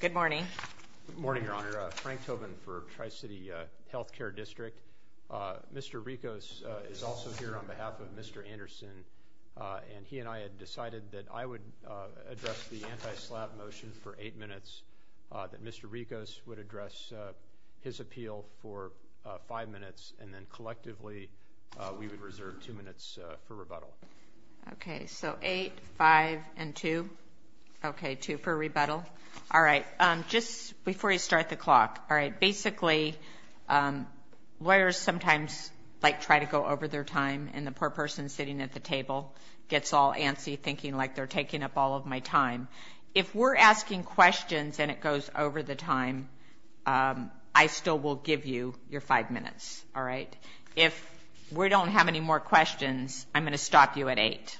Good morning. Good morning, Your Honor. Frank Tobin for Tri-City Health Care District. Mr. Ricos is also here on behalf of Mr. Anderson and he and I had decided that I would address the anti-slap motion for eight minutes, that Mr. Ricos would address his appeal for five minutes, and then collectively we would reserve two minutes for rebuttal. Okay, so eight, five, and two. Okay, two for rebuttal. All right. Just before you start the clock, all right, basically lawyers sometimes, like, try to go over their time, and the poor person sitting at the table gets all antsy, thinking, like, they're taking up all of my time. If we're asking questions and it goes over the time, I still will give you your five minutes, all right? If we don't have any more questions, I'm going to stop you at eight,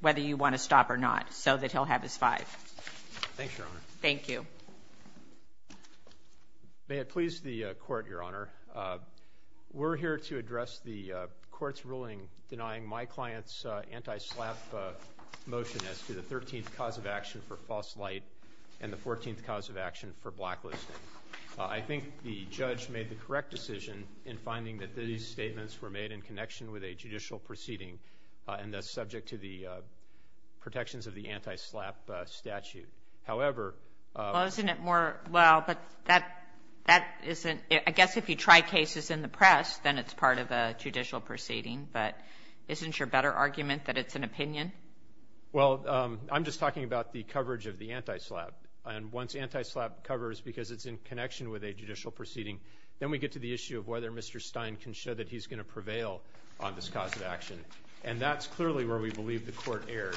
whether you want to stop or not, so that he'll have his five. Thanks, Your Honor. Thank you. May it please the court, Your Honor, we're here to address the court's ruling denying my client's anti-slap motion as to the 13th cause of action for false light and the 14th cause of action for blacklisting. I think the judge made the correct decision in finding that these statements were made in connection with a judicial proceeding and thus subject to the protections of the anti-slap statute. However... Well, isn't it more, well, but that, that isn't, I guess if you try cases in the press, then it's part of a judicial proceeding, but isn't your better argument that it's an opinion? Well, I'm just talking about the coverage of the anti-slap, and once anti-slap covers, because it's in connection with a judicial proceeding, then we get to the issue of whether Mr. Stein can show that he's going to prevail on this cause of action, and that's clearly where we believe the court erred,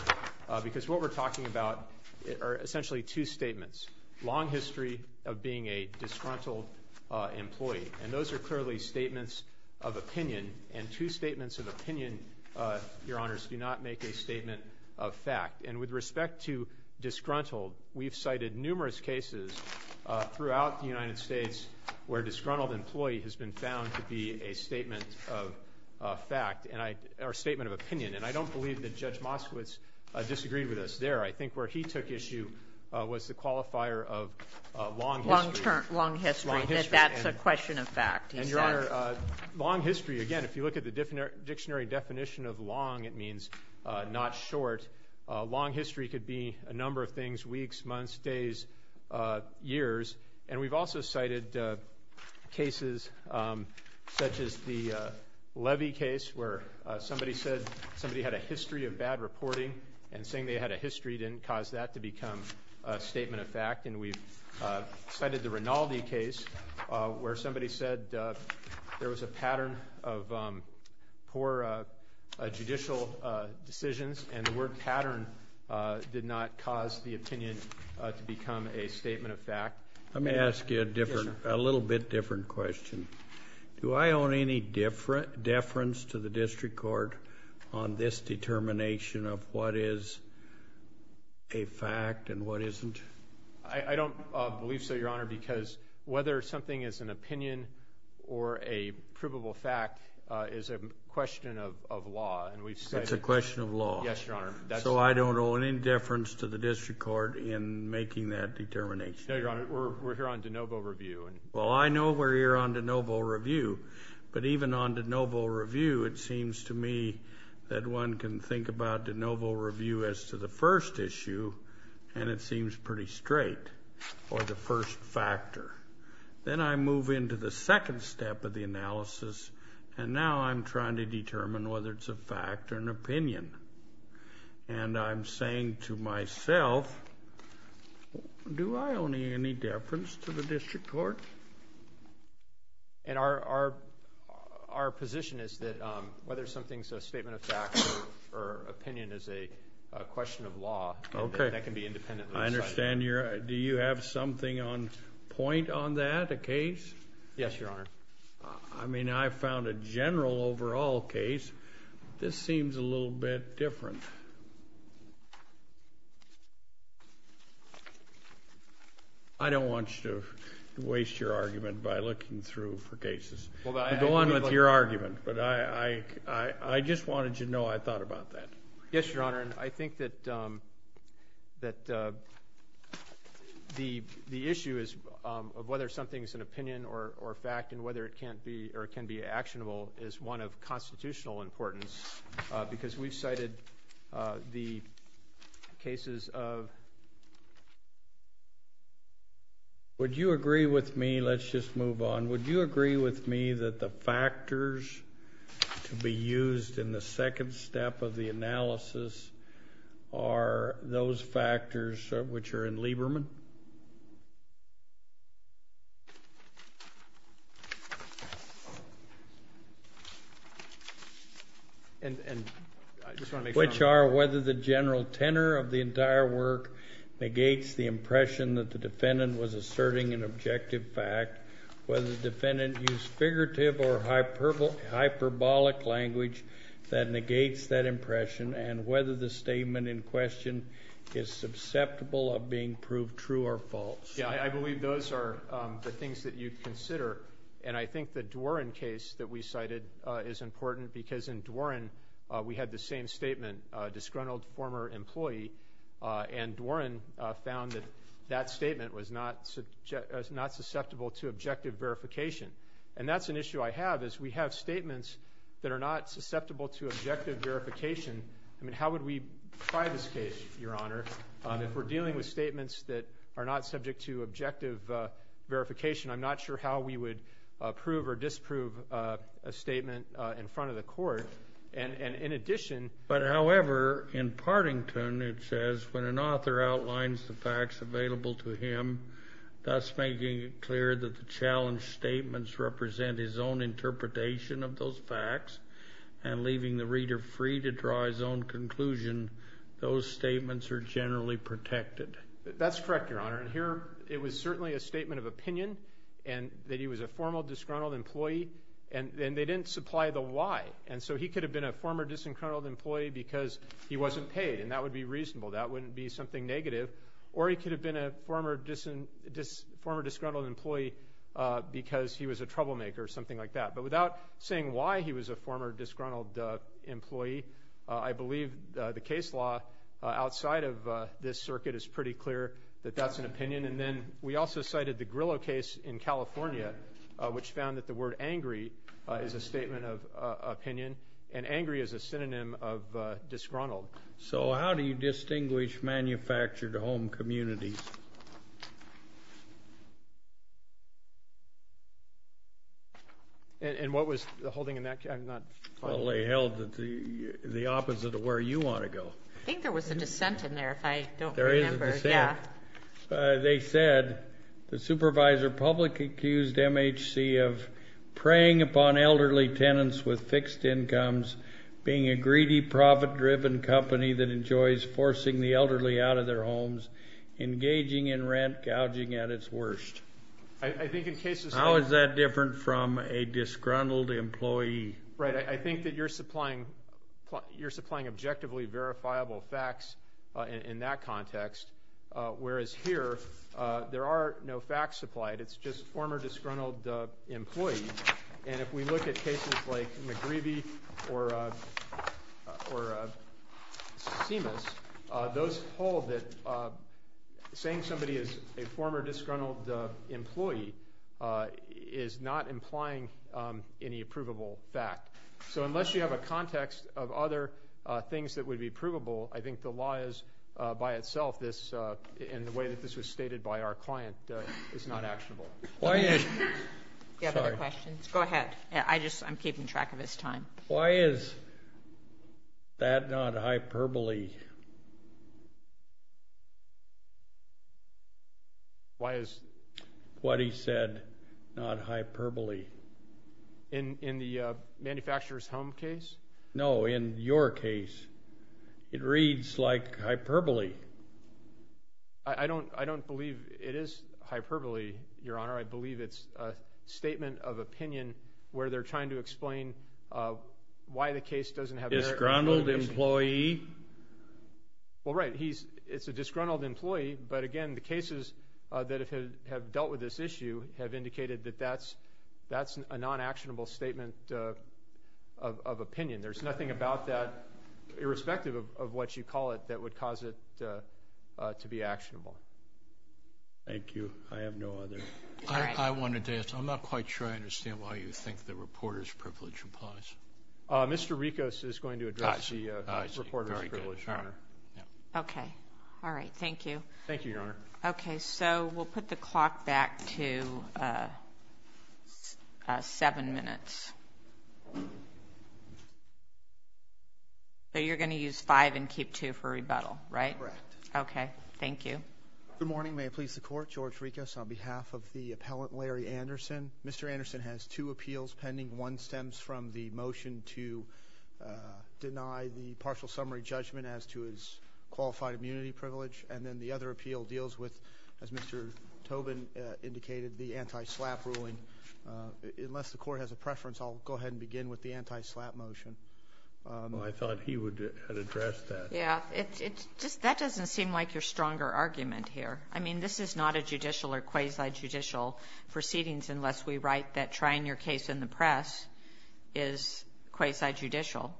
because what we're talking about are essentially two statements. Long history of being a disgruntled employee, and those are clearly statements of opinion, and two statements of opinion, Your Honors, do not make a statement of fact. And with respect to disgruntled, we've cited numerous cases throughout the United States where disgruntled employee has been found to be a statement of fact, and a statement of opinion. And I don't believe that Judge Moskowitz disagreed with us there. I think where he took issue was the qualifier of long history. Long history, that that's a question of fact. And, Your Honor, long history, again, if you look at the dictionary definition of long, it means not short. Long history could be a number of things, weeks, months, days, years. And we've also cited cases such as the Levy case, where somebody said somebody had a history of bad reporting, and saying they had a history didn't cause that to become a statement of fact. And we've cited the Rinaldi case, where somebody said there was a pattern of poor judicial decisions, and the word pattern did not cause the error. A little bit different question. Do I own any deference to the District Court on this determination of what is a fact and what isn't? I don't believe so, Your Honor, because whether something is an opinion or a provable fact is a question of law, and we've cited. It's a question of law. Yes, Your Honor. So I don't own any deference to the District Court in making that determination. No, well, I know we're here on De Novo Review, but even on De Novo Review, it seems to me that one can think about De Novo Review as to the first issue, and it seems pretty straight, or the first factor. Then I move into the second step of the analysis, and now I'm trying to determine whether it's a fact or an opinion. Do I own any deference to the District Court? And our position is that whether something's a statement of fact or opinion is a question of law. Okay. That can be independently cited. I understand. Do you have something on point on that, a case? Yes, Your Honor. I mean, I found a general overall case. This seems a little bit different. I don't want you to waste your argument by looking through for cases. Go on with your argument, but I just wanted to know I thought about that. Yes, Your Honor, and I think that the issue of whether something's an opinion or fact and whether it can be actionable is one of constitutional importance, because we've cited the cases of... Would you agree with me, let's just move on, would you agree with me that the factors to be used in the second step of the analysis are those which are whether the general tenor of the entire work negates the impression that the defendant was asserting an objective fact, whether the defendant used figurative or hyperbolic language that negates that impression, and whether the statement in question is susceptible of being proved true or false. Yeah, I believe those are the things that you'd consider, and I think the Dworin case that we cited is important because in Dworin we had the same statement, disgruntled former employee, and Dworin found that that statement was not susceptible to objective verification, and that's an issue I have is we have statements that are not susceptible to objective verification. I mean, how would we try this case, Your Honor, if we're dealing with statements that are not subject to objective verification? I'm not sure how we would prove or disprove a statement in front of the court, and in addition... But however, in Partington it says, when an author outlines the facts available to him, thus making it clear that the challenged statements represent his own interpretation of those facts, and leaving the reader free to draw his own conclusion, those statements are generally protected. That's correct, Your Honor, and here it was certainly a statement of opinion, and that he was a formal disgruntled employee, and they didn't supply the why, and so he could have been a former disgruntled employee because he wasn't paid, and that would be reasonable, that wouldn't be something negative, or he could have been a former disgruntled employee because he was a troublemaker or something like that. But without saying why he was a former disgruntled employee, I believe the case law outside of this circuit is pretty clear that that's an opinion, and then we also cited the Grillo case in California, which found that the word angry is a statement of opinion, and angry is a synonym of disgruntled. So how do you distinguish manufactured home communities? And what was the holding in that case? I'm not following. Well, they held the opposite of where you want to go. I think there was a dissent in there, if I don't remember. There is a dissent. Yeah. They said the supervisor publicly accused MHC of preying upon elderly tenants with fixed incomes, being a greedy, profit-driven company that enjoys forcing the elderly out of their homes, engaging in rent, gouging at its worst. I think in cases. How is that different from a disgruntled employee? Right. I think that you're supplying objectively verifiable facts in that context, whereas here there are no facts supplied. It's just former disgruntled employees. And if we look at cases like McGreevy or Simas, those hold that saying somebody is a former disgruntled employee is not implying any approvable fact. So unless you have a context of other things that would be provable, I think the law is by itself, in the way that this was stated by our client, is not actionable. Do you have other questions? Go ahead. I'm keeping track of his time. Why is that not hyperbole? Why is what he said not hyperbole? In the manufacturer's home case? No, in your case. It reads like hyperbole. I don't believe it is hyperbole, Your Honor. I believe it's a statement of opinion where they're trying to explain why the case doesn't have verifiable facts. Disgruntled employee? Well, right. It's a disgruntled employee. But, again, the cases that have dealt with this issue have indicated that that's a non-actionable statement of opinion. There's nothing about that, irrespective of what you call it, that would cause it to be actionable. Thank you. I have no other. I wanted to ask. I'm not quite sure I understand why you think the reporter's privilege applies. Mr. Rikos is going to address the reporter's privilege, Your Honor. Okay. All right. Thank you. Thank you, Your Honor. Okay. So we'll put the clock back to seven minutes. So you're going to use five and keep two for rebuttal, right? Correct. Okay. Thank you. Good morning. May it please the Court. George Rikos on behalf of the appellant, Larry Anderson. Mr. Anderson has two appeals pending. One stems from the motion to deny the partial summary judgment as to his qualified immunity privilege. And then the other appeal deals with, as Mr. Tobin indicated, the anti-SLAPP ruling. Unless the Court has a preference, I'll go ahead and begin with the anti-SLAPP motion. I thought he would address that. Yeah. It's just that doesn't seem like your stronger argument here. I mean, this is not a judicial or quasi-judicial proceedings unless we write that trying your case in the press is quasi-judicial.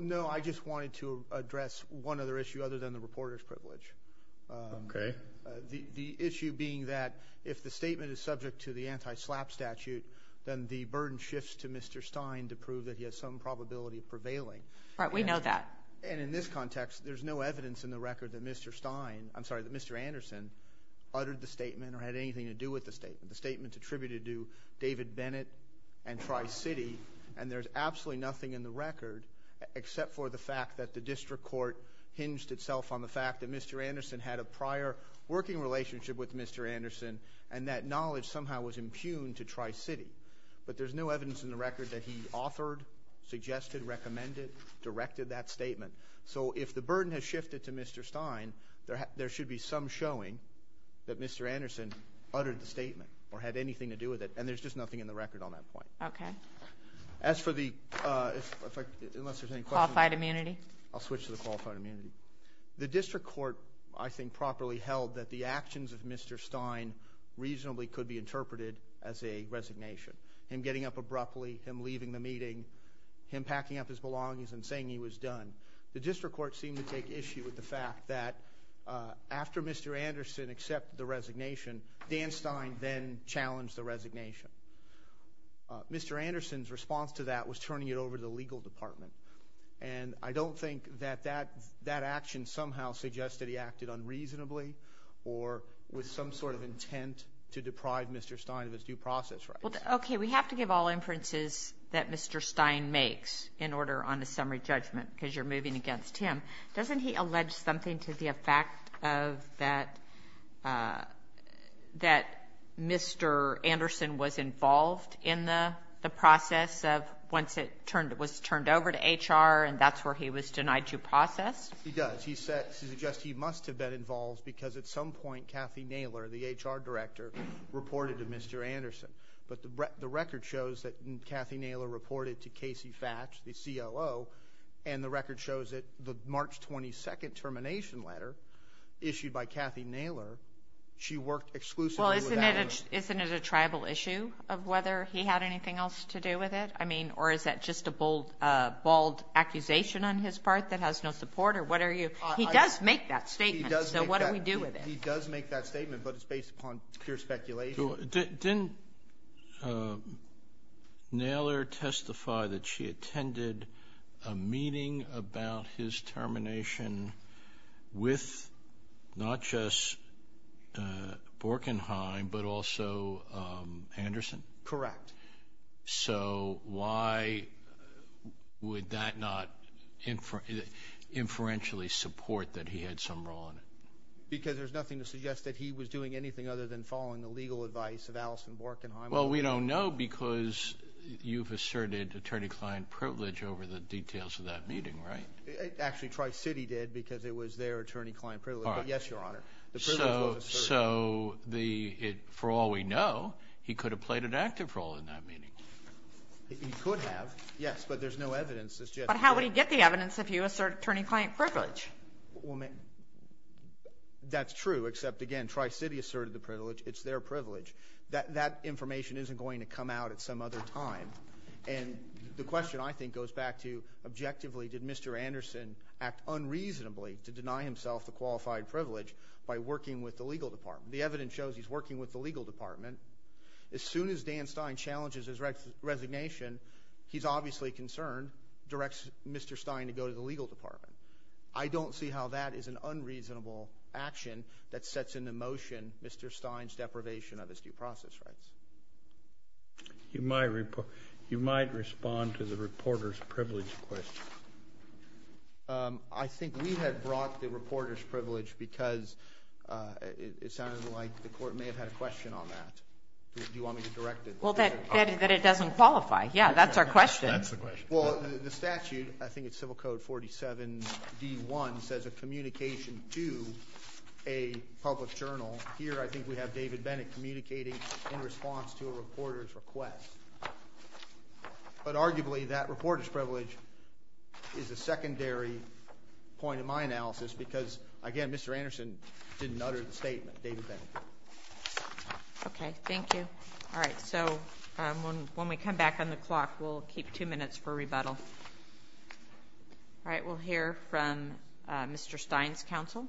No, I just wanted to address one other issue other than the reporter's privilege. Okay. The issue being that if the statement is subject to the anti-SLAPP statute, then the burden shifts to Mr. Stein to prove that he has some probability of prevailing. Right. We know that. And in this context, there's no evidence in the record that Mr. Stein – I'm sorry, that Mr. Anderson uttered the statement or had anything to do with the statement. The statement's attributed to David Bennett and Tri-City, and there's absolutely nothing in the record except for the fact that the district court hinged itself on the fact that Mr. Anderson had a prior working relationship with Mr. Anderson and that knowledge somehow was impugned to Tri-City. But there's no evidence in the record that he authored, suggested, recommended, directed that statement. So if the burden has shifted to Mr. Stein, there should be some showing that Mr. Anderson uttered the statement or had anything to do with it, and there's just nothing in the record on that point. Okay. As for the – unless there's any questions. Qualified immunity. I'll switch to the qualified immunity. The district court, I think, properly held that the actions of Mr. Stein reasonably could be interpreted as a resignation. Him getting up abruptly, him leaving the meeting, him packing up his belongings and saying he was done. The district court seemed to take issue with the fact that after Mr. Anderson accepted the resignation, Dan Stein then challenged the resignation. Mr. Anderson's response to that was turning it over to the legal department, and I don't think that that action somehow suggests that he acted unreasonably or with some sort of intent to deprive Mr. Stein of his due process rights. Okay. We have to give all inferences that Mr. Stein makes in order on the summary judgment because you're moving against him. Doesn't he allege something to the effect of that Mr. Anderson was involved in the process of once it was turned over to HR and that's where he was denied due process? He does. He suggests he must have been involved because at some point Kathy Naylor, the HR director, reported to Mr. Anderson. But the record shows that Kathy Naylor reported to Casey Fatsch, the COO, and the record shows that the March 22nd termination letter issued by Kathy Naylor, she worked exclusively with that. Isn't it a tribal issue of whether he had anything else to do with it? I mean, or is that just a bold accusation on his part that has no support? He does make that statement, so what do we do with it? He does make that statement, but it's based upon pure speculation. Didn't Naylor testify that she attended a meeting about his termination with not just Borkenheim but also Anderson? Correct. So why would that not inferentially support that he had some role in it? Because there's nothing to suggest that he was doing anything other than following the legal advice of Alison Borkenheim. Well, we don't know because you've asserted attorney-client privilege over the details of that meeting, right? Actually, Tri-City did because it was their attorney-client privilege, but yes, Your Honor, the privilege was asserted. So for all we know, he could have played an active role in that meeting. He could have, yes, but there's no evidence to suggest that. But how would he get the evidence if you assert attorney-client privilege? Well, that's true, except, again, Tri-City asserted the privilege. It's their privilege. That information isn't going to come out at some other time. And the question, I think, goes back to, objectively, did Mr. Anderson act unreasonably to deny himself the qualified privilege by working with the legal department? The evidence shows he's working with the legal department. As soon as Dan Stein challenges his resignation, he's obviously concerned, directs Mr. Stein to go to the legal department. I don't see how that is an unreasonable action that sets into motion Mr. Stein's deprivation of his due process rights. You might respond to the reporter's privilege question. I think we had brought the reporter's privilege because it sounded like the court may have had a question on that. Do you want me to direct it? Well, that it doesn't qualify. Yeah, that's our question. That's the question. Well, the statute, I think it's Civil Code 47-D1, says a communication to a public journal. Here, I think we have David Bennett communicating in response to a reporter's request. But arguably, that reporter's privilege is a secondary point of my analysis because, again, Mr. Anderson didn't utter the statement. David Bennett. Okay, thank you. All right, so when we come back on the clock, we'll keep two minutes for rebuttal. All right, we'll hear from Mr. Stein's counsel.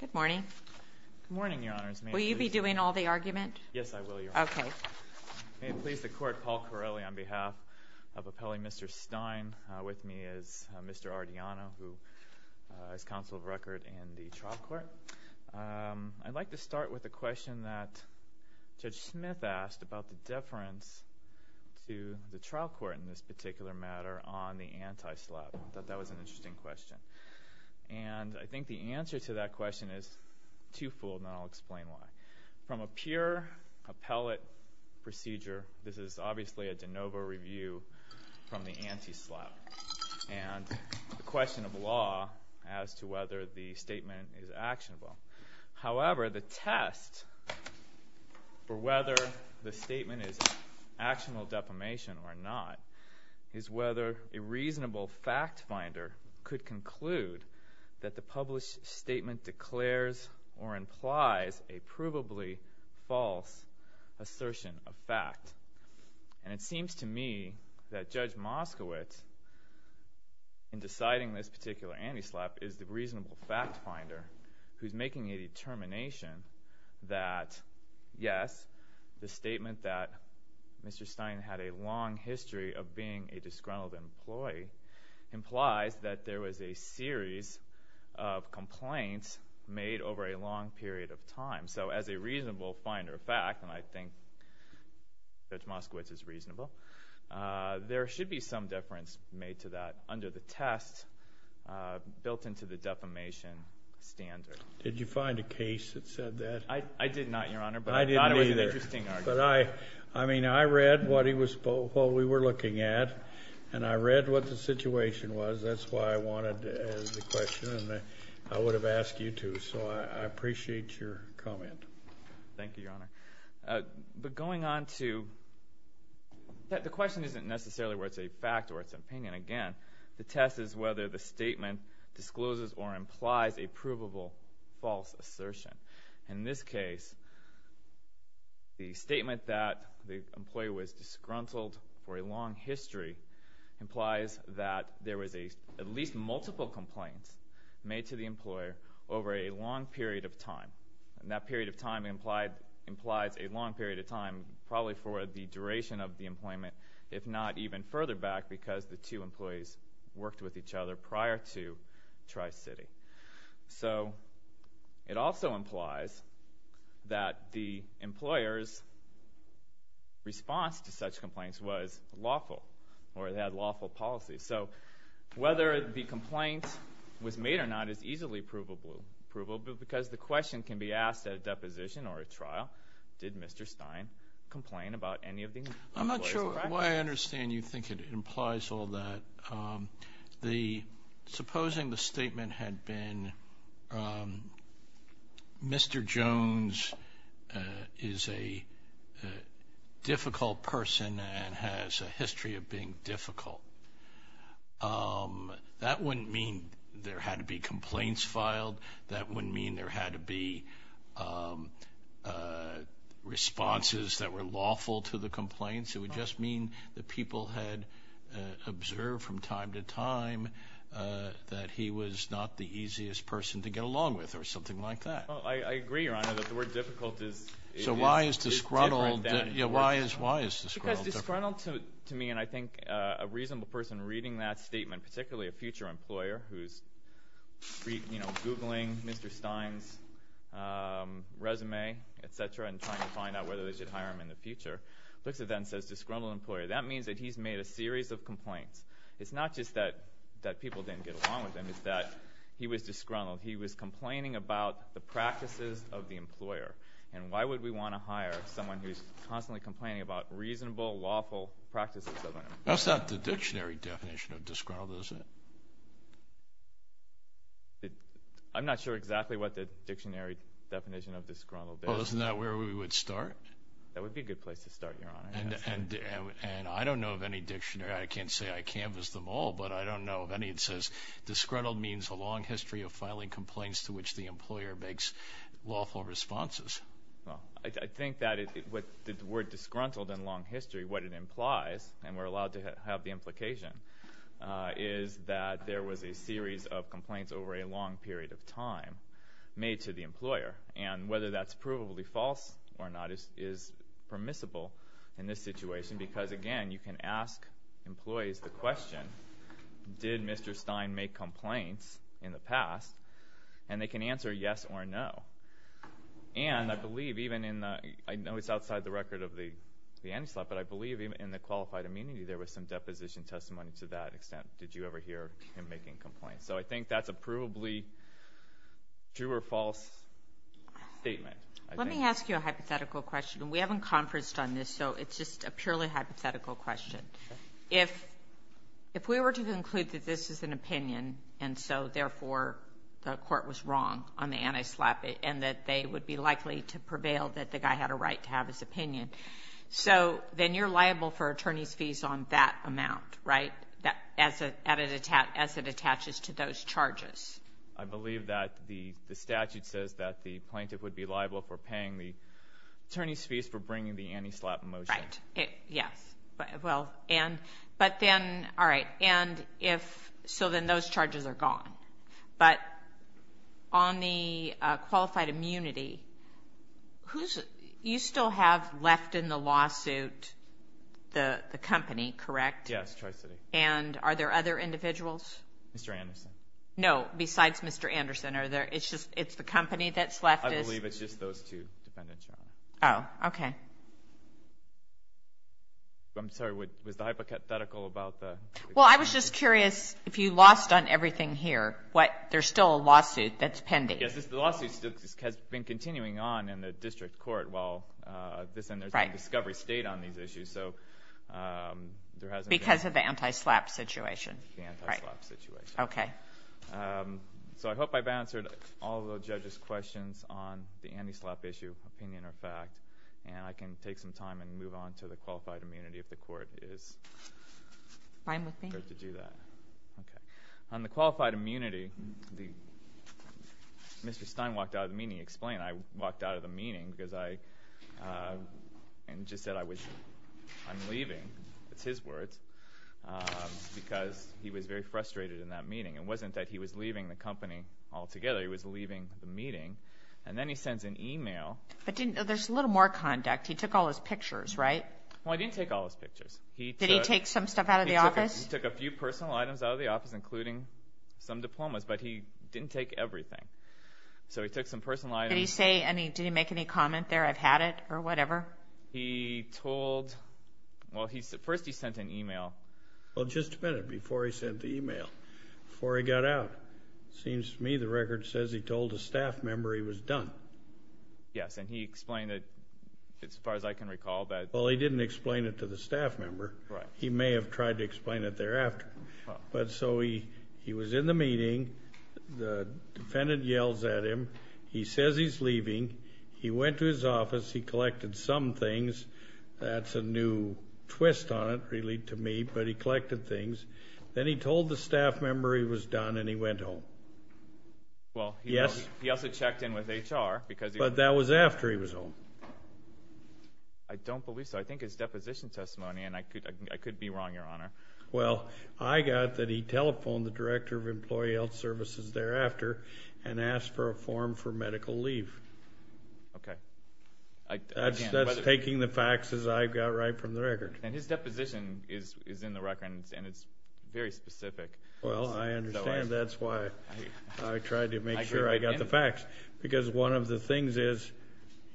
Good morning. Good morning, Your Honors. Will you be doing all the argument? Yes, I will, Your Honor. Okay. May it please the court, Paul Corelli on behalf of Appellee Mr. Stein. With me is Mr. Ardiano, who is counsel of record in the trial court. I'd like to start with a question that Judge Smith asked about the deference to the trial court in this particular matter on the anti-SLAP. I thought that was an interesting question. And I think the answer to that question is twofold, and I'll explain why. From a pure appellate procedure, this is obviously a de novo review from the anti-SLAP. And the question of law as to whether the statement is actionable. However, the test for whether the statement is actionable defamation or not is whether a reasonable fact finder could conclude that the published statement declares or implies a provably false assertion of fact. And it seems to me that Judge Moskowitz, in deciding this particular anti-SLAP, is the reasonable fact finder who's making a determination that yes, the statement that Mr. Stein had a long history of being a disgruntled employee implies that there was a series of complaints made over a long period of time. So as a reasonable finder of fact, and I think Judge Moskowitz is reasonable, there should be some deference made to that under the test built into the defamation standard. Did you find a case that said that? I did not, Your Honor, but I thought it was an interesting argument. I mean, I read what we were looking at, and I read what the situation was. That's why I wanted to ask the question, and I would have asked you to. So I appreciate your comment. Thank you, Your Honor. But going on to... The question isn't necessarily whether it's a fact or it's an opinion. Again, the test is whether the statement discloses or implies a provable false assertion. In this case, the statement that the employee was disgruntled for a long history implies that there was at least multiple complaints made to the employer over a long period of time. And that period of time implies a long period of time, probably for the duration of the employment, if not even further back, because the two employees worked with each other prior to Tri-City. So it also implies that the employer's response to such complaints was lawful, or they had lawful policies. So whether the complaint was made or not is easily provable because the question can be asked at a deposition or a trial, did Mr. Stein complain about any of the employees? I'm not sure why I understand you think it implies all that. Supposing the statement had been, Mr. Jones is a difficult person and has a history of being difficult. That wouldn't mean there had to be complaints filed. That wouldn't mean there had to be responses that were lawful to the complaints. It would just mean that people had observed from time to time that he was not the easiest person to get along with or something like that. I agree, Your Honor, that the word difficult is different. So why is disgruntled different? Because disgruntled to me, and I think a reasonable person reading that statement, particularly a future employer who's googling Mr. Stein's resume, et cetera, and trying to find out whether they should hire him in the future, looks at that and says disgruntled employer. That means that he's made a series of complaints. It's not just that people didn't get along with him. It's that he was disgruntled. He was complaining about the practices of the employer. And why would we want to hire someone who's constantly complaining about reasonable, lawful practices of an employer? That's not the dictionary definition of disgruntled, is it? I'm not sure exactly what the dictionary definition of disgruntled is. Well, isn't that where we would start? That would be a good place to start, Your Honor. And I don't know of any dictionary. I can't say I canvassed them all, but I don't know of any that says disgruntled means a long history of filing complaints to which the employer makes lawful responses. Well, I think that the word disgruntled and long history, what it implies, and we're allowed to have the implication, is that there was a series of complaints over a long period of time made to the employer. And whether that's provably false or not is permissible in this situation, because, again, you can ask employees the question, did Mr. Stein make complaints in the past? And they can answer yes or no. And I believe even in the... I know it's outside the record of the anti-slap, but I believe even in the qualified immunity, there was some deposition testimony to that extent. Did you ever hear him making complaints? So I think that's a provably true or false statement. Let me ask you a hypothetical question. We haven't conferenced on this, so it's just a purely hypothetical question. If we were to conclude that this is an opinion, and so, therefore, the court was wrong on the anti-slap and that they would be likely to prevail that the guy had a right to have his opinion, so then you're liable for attorney's fees on that amount, right? As it attaches to those charges. I believe that the statute says that the plaintiff would be liable for paying the attorney's fees for bringing the anti-slap motion. Right. Yes. Well, and... but then... all right. And if... so then those charges are gone. But on the qualified immunity, who's... you still have left in the lawsuit the company, correct? Yes, Tri-City. And are there other individuals? Mr. Anderson. No, besides Mr. Anderson, are there... it's just... it's the company that's left is... I believe it's just those two defendants, Your Honor. Oh, okay. I'm sorry, was the hypothetical about the... Well, I was just curious, if you lost on everything here, what... there's still a lawsuit that's pending. Yes, the lawsuit still has been continuing on in the district court while this... Right. And there's no discovery state on these issues, so there hasn't been... Because of the anti-slap situation, right? The anti-slap situation. Okay. So I hope I've answered all of the judges' questions on the anti-slap issue, opinion or fact, and I can take some time and move on to the qualified immunity if the court is... Fine with me. ...prepared to do that. Okay. On the qualified immunity, the... Mr. Stein walked out of the meeting, explained I walked out of the meeting because I... and just said I was... I'm leaving, it's his words, because he was very frustrated in that meeting. It wasn't that he was leaving the company altogether, he was leaving the meeting, and then he sends an e-mail... But didn't... there's a little more conduct. He took all his pictures, right? Well, I didn't take all his pictures. Did he take some stuff out of the office? He took a few personal items out of the office, including some diplomas, but he didn't take everything. So he took some personal items... Did he say any... did he make any comment there, I've had it, or whatever? He told... well, he... first he sent an e-mail. Well, just a minute before he sent the e-mail, before he got out. Seems to me the record says he told a staff member he was done. Yes, and he explained it, as far as I can recall, that... Well, he didn't explain it to the staff member. Right. He may have tried to explain it thereafter. But so he... he was in the meeting, the defendant yells at him, he says he's leaving, he went to his office, he collected some things. That's a new twist on it, really, to me, but he collected things. Then he told the staff member he was done and he went home. Well, he also checked in with HR because... But that was after he was home. I don't believe so. I think it's deposition testimony, and I could be wrong, Your Honor. Well, I got that he telephoned the director of employee health services thereafter and asked for a form for medical leave. Okay. That's taking the facts as I've got right from the record. And his deposition is in the record, and it's very specific. Well, I understand. That's why I tried to make sure I got the facts. Because one of the things is,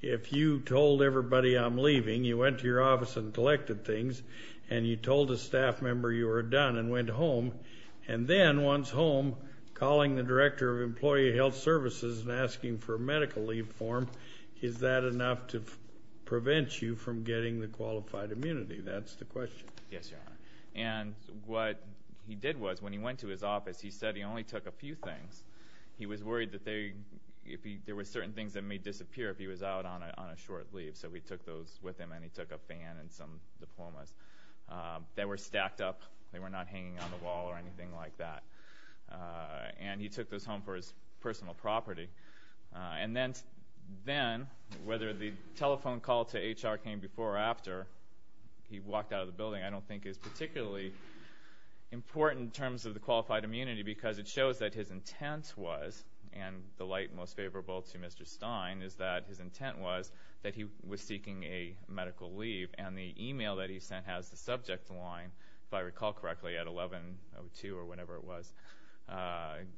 if you told everybody I'm leaving, you went to your office and collected things, and you told a staff member you were done and went home, and then, once home, calling the director of employee health services and asking for a medical leave form, is that enough to prevent you from getting the qualified immunity? That's the question. Yes, Your Honor. And what he did was, when he went to his office, he said he only took a few things. He was worried that there were certain things that may disappear if he was out on a short leave. So he took those with him, and he took a fan and some diplomas. They were stacked up. They were not hanging on the wall or anything like that. And he took those home for his personal property. And then, whether the telephone call to HR came before or after he walked out of the building, I don't think is particularly important in terms of the qualified immunity, because it shows that his intent was, and the light most favorable to Mr. Stein is that his intent was that he was seeking a medical leave. And the e-mail that he sent has the subject line, if I recall correctly, at 1102 or whenever it was,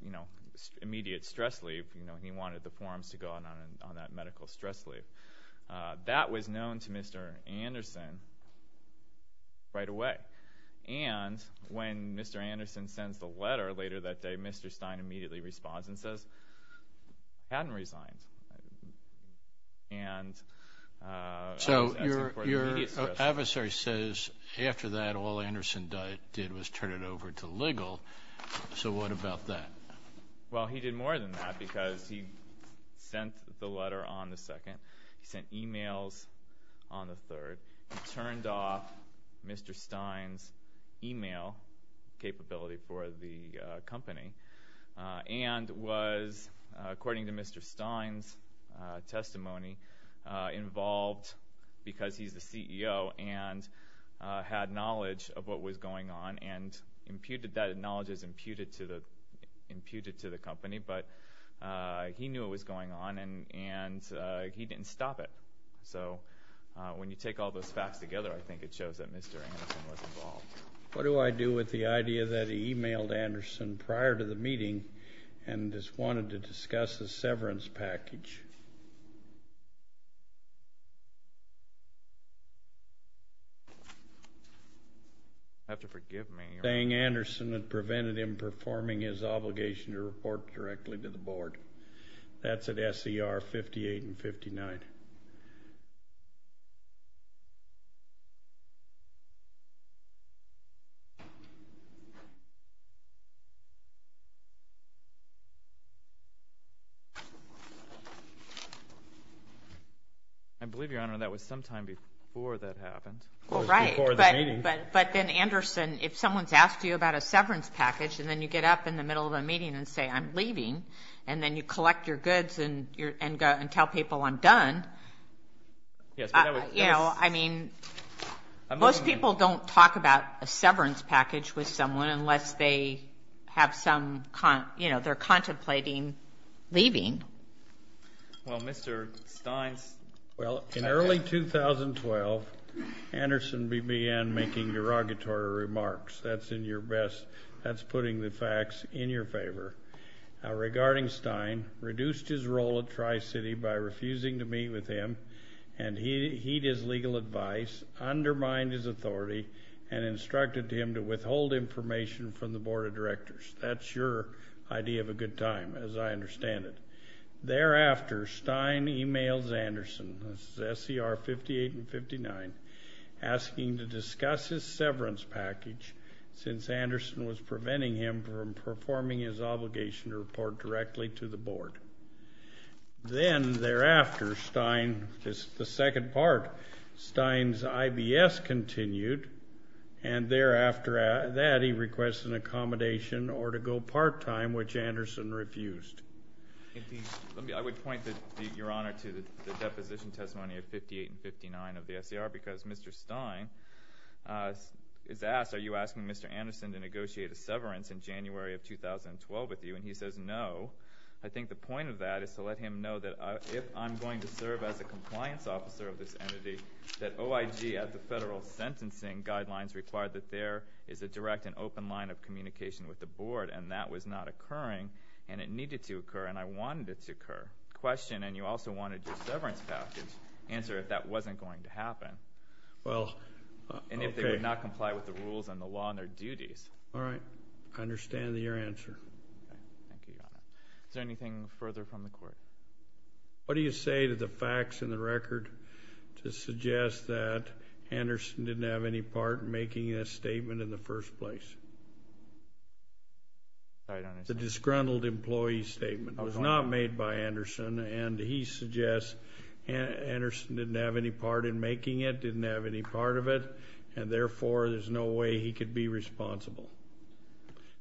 you know, immediate stress leave. You know, he wanted the forms to go on on that medical stress leave. That was known to Mr. Anderson right away. And when Mr. Anderson sends the letter later that day, Mr. Stein immediately responds and says, hadn't resigned. And... So your adversary says, after that, all Anderson did was turn it over to legal. So what about that? Well, he did more than that, because he sent the letter on the 2nd. He sent e-mails on the 3rd. He turned off Mr. Stein's e-mail capability for the company and was, according to Mr. Stein's testimony, involved because he's the CEO and had knowledge of what was going on and imputed that knowledge as imputed to the company. But he knew what was going on, and he didn't stop it. So when you take all those facts together, I think it shows that Mr. Anderson was involved. What do I do with the idea that he e-mailed Anderson prior to the meeting and just wanted to discuss the severance package? You'll have to forgive me. Dang Anderson had prevented him performing his obligation to report directly to the board. That's at S.E.R. 58 and 59. I believe, Your Honor, that was sometime before that happened. Well, right, but then, Anderson, if someone's asked you about a severance package and then you get up in the middle of a meeting and say, I'm leaving, and then you collect your goods and tell people, I'm done, you know, I mean, most people don't talk about a severance package with someone unless they have some, you know, they're contemplating leaving. Well, Mr. Stein's... Anderson began making derogatory remarks. That's in your best... That's putting the facts in your favor. Regarding Stein, reduced his role at Tri-City by refusing to meet with him and heed his legal advice, undermined his authority, and instructed him to withhold information from the board of directors. That's your idea of a good time, as I understand it. Thereafter, Stein e-mails Anderson, SCR 58 and 59, asking to discuss his severance package since Anderson was preventing him from performing his obligation to report directly to the board. Then, thereafter, Stein... The second part, Stein's IBS continued, and thereafter that, he requests an accommodation or to go part-time, which Anderson refused. I would point, Your Honor, to the deposition testimony of 58 and 59 of the SCR, because Mr. Stein is asked, are you asking Mr. Anderson to negotiate a severance in January of 2012 with you? And he says no. I think the point of that is to let him know that if I'm going to serve as a compliance officer of this entity, that OIG, at the federal sentencing guidelines, required that there is a direct and open line of communication with the board, and that was not occurring, and it needed to occur, and I wanted it to occur. Your question, and you also wanted your severance package answered if that wasn't going to happen. Well... And if they would not comply with the rules and the law and their duties. All right. I understand your answer. Thank you, Your Honor. Is there anything further from the court? What do you say to the facts in the record to suggest that Anderson didn't have any part in making a statement in the first place? I don't understand. The disgruntled employee statement was not made by Anderson, and he suggests Anderson didn't have any part in making it, didn't have any part of it, and therefore there's no way he could be responsible.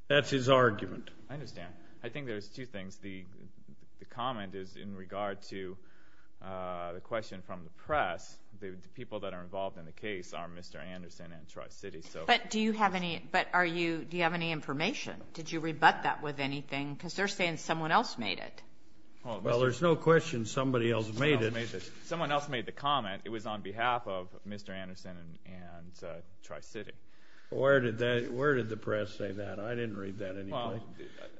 That's his argument. I understand. I think there's two things. The comment is in regard to the question from the press. The people that are involved in the case are Mr. Anderson and Tri-City, so... But do you have any... But are you... Do you have any information? Did you rebut that with anything? Because they're saying someone else made it. Well, there's no question somebody else made it. Someone else made the comment. It was on behalf of Mr. Anderson and Tri-City. Where did the press say that? I didn't read that anyway.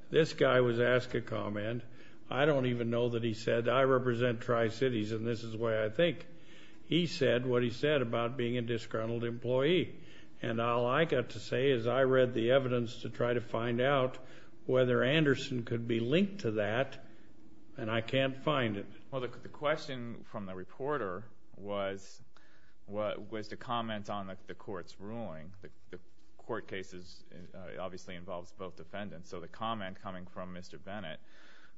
This guy was asked a comment. I don't even know that he said, I represent Tri-Cities, and this is the way I think. He said what he said about being a disgruntled employee, and all I got to say is I read the evidence to try to find out whether Anderson could be linked to that, and I can't find it. Well, the question from the reporter was the comment on the court's ruling. The court case obviously involves both defendants, so the comment coming from Mr. Bennett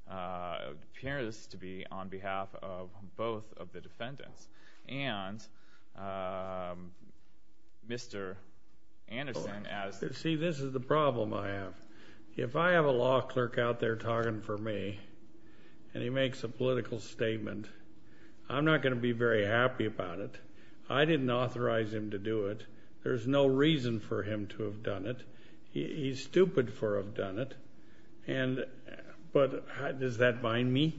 appears to be on behalf of both of the defendants. And Mr. Anderson, as... See, this is the problem I have. If I have a law clerk out there talking for me and he makes a political statement, I'm not going to be very happy about it. I didn't authorize him to do it. There's no reason for him to have done it. He's stupid for having done it, and... But does that bind me?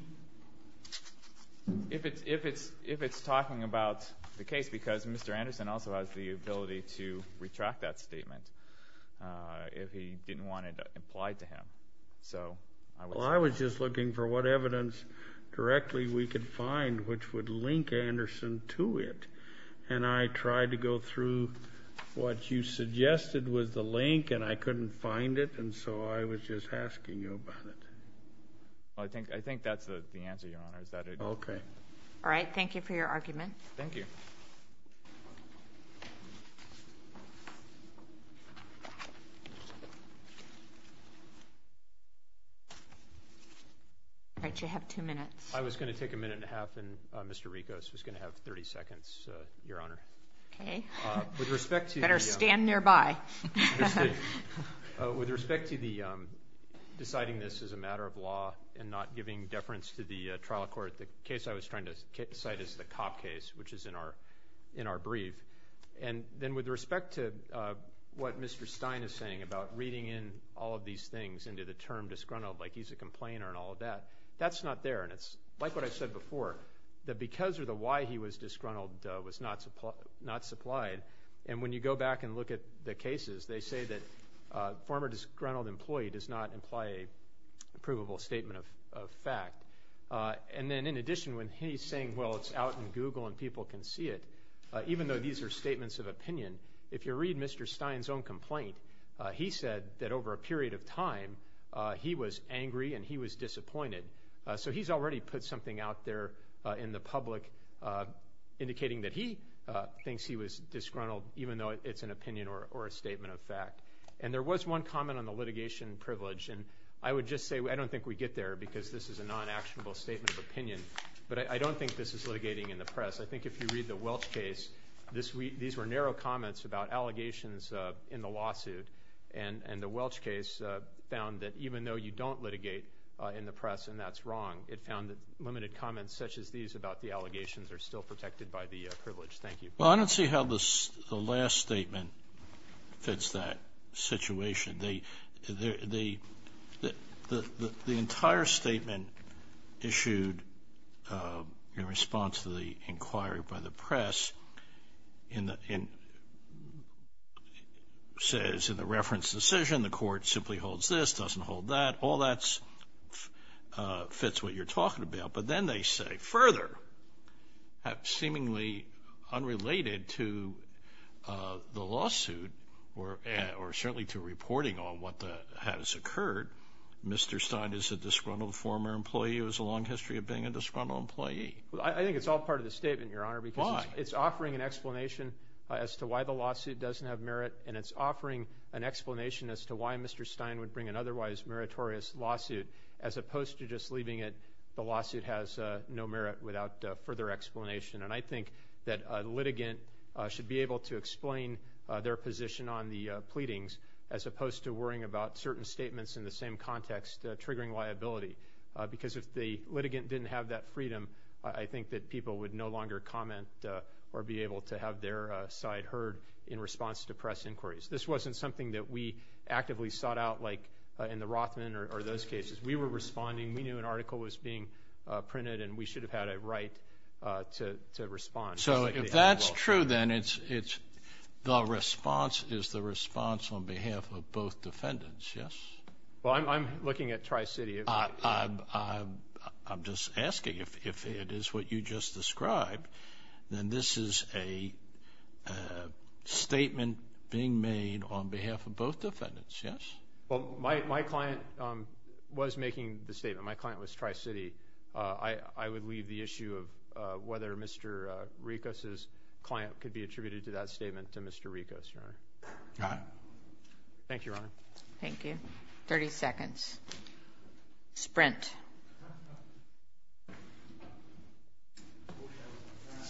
If it's talking about the case, because Mr. Anderson also has the ability to retract that statement if he didn't want it implied to him. So... Well, I was just looking for what evidence directly we could find which would link Anderson to it, and I tried to go through what you suggested was the link, and I couldn't find it, and so I was just asking you about it. I think that's the answer, Your Honor, is that it... Okay. All right, thank you for your argument. Thank you. Thank you. All right, you have two minutes. I was going to take a minute and a half, and Mr. Ricos was going to have 30 seconds, Your Honor. Okay. Better stand nearby. With respect to the deciding this is a matter of law and not giving deference to the trial court, the case I was trying to cite is the Cop case, which is in our brief. And then with respect to what Mr. Stein is saying about reading in all of these things into the term disgruntled, like he's a complainer and all of that, that's not there, and it's like what I said before, that because of the why he was disgruntled was not supplied, and when you go back and look at the cases, they say that former disgruntled employee does not imply a provable statement of fact. And then in addition, when he's saying, well, it's out in Google and people can see it, even though these are statements of opinion, if you read Mr. Stein's own complaint, he said that over a period of time he was angry and he was disappointed. So he's already put something out there in the public indicating that he thinks he was disgruntled even though it's an opinion or a statement of fact. And there was one comment on the litigation privilege, and I would just say I don't think we get there because this is a non-actionable statement of opinion, but I don't think this is litigating in the press. I think if you read the Welch case, these were narrow comments about allegations in the lawsuit, and the Welch case found that even though you don't litigate in the press and that's wrong, it found that limited comments such as these about the allegations are still protected by the privilege. Thank you. Well, I don't see how the last statement fits that situation. The entire statement issued in response to the inquiry by the press says in the reference decision the court simply holds this, doesn't hold that. All that fits what you're talking about. But then they say further, seemingly unrelated to the lawsuit or certainly to reporting on what has occurred, Mr. Stein is a disgruntled former employee who has a long history of being a disgruntled employee. I think it's all part of the statement, Your Honor. Why? Because it's offering an explanation as to why the lawsuit doesn't have merit and it's offering an explanation as to why Mr. Stein would bring an otherwise meritorious lawsuit as opposed to just leaving it the lawsuit has no merit without further explanation. And I think that a litigant should be able to explain their position on the pleadings as opposed to worrying about certain statements in the same context triggering liability. Because if the litigant didn't have that freedom, I think that people would no longer comment or be able to have their side heard in response to press inquiries. This wasn't something that we actively sought out like in the Rothman or those cases. We were responding. We knew an article was being printed and we should have had a right to respond. So if that's true, then it's the response is the response on behalf of both defendants, yes? Well, I'm looking at Tri-City. I'm just asking if it is what you just described, then this is a statement being made on behalf of both defendants, yes? Well, my client was making the statement. My client was Tri-City. I would leave the issue of whether Mr. Rikos's client could be attributed to that statement to Mr. Rikos, Your Honor. Got it. Thank you, Your Honor. Thank you. 30 seconds. Sprint.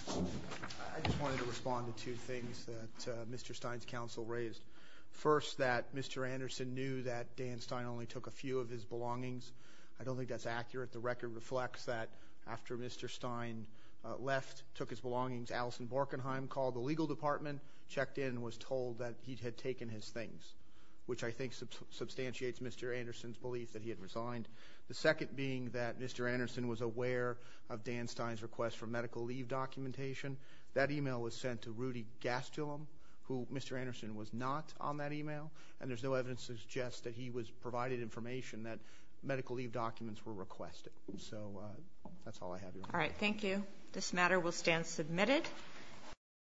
I just wanted to respond to two things that Mr. Stein's counsel raised. First, that Mr. Anderson knew that Dan Stein only took a few of his belongings. I don't think that's accurate. The record reflects that after Mr. Stein left, took his belongings, Alison Borkenheim called the legal department, checked in, was told that he had taken his things, which I think substantiates Mr. Anderson's belief that he had resigned. The second being that Mr. Anderson was aware of Dan Stein's request for medical leave documentation. That email was sent to Rudy Gastelum, who Mr. Anderson was not on that email, and there's no evidence to suggest that he was provided information and that medical leave documents were requested. So that's all I have, Your Honor. All right, thank you. This matter will stand submitted.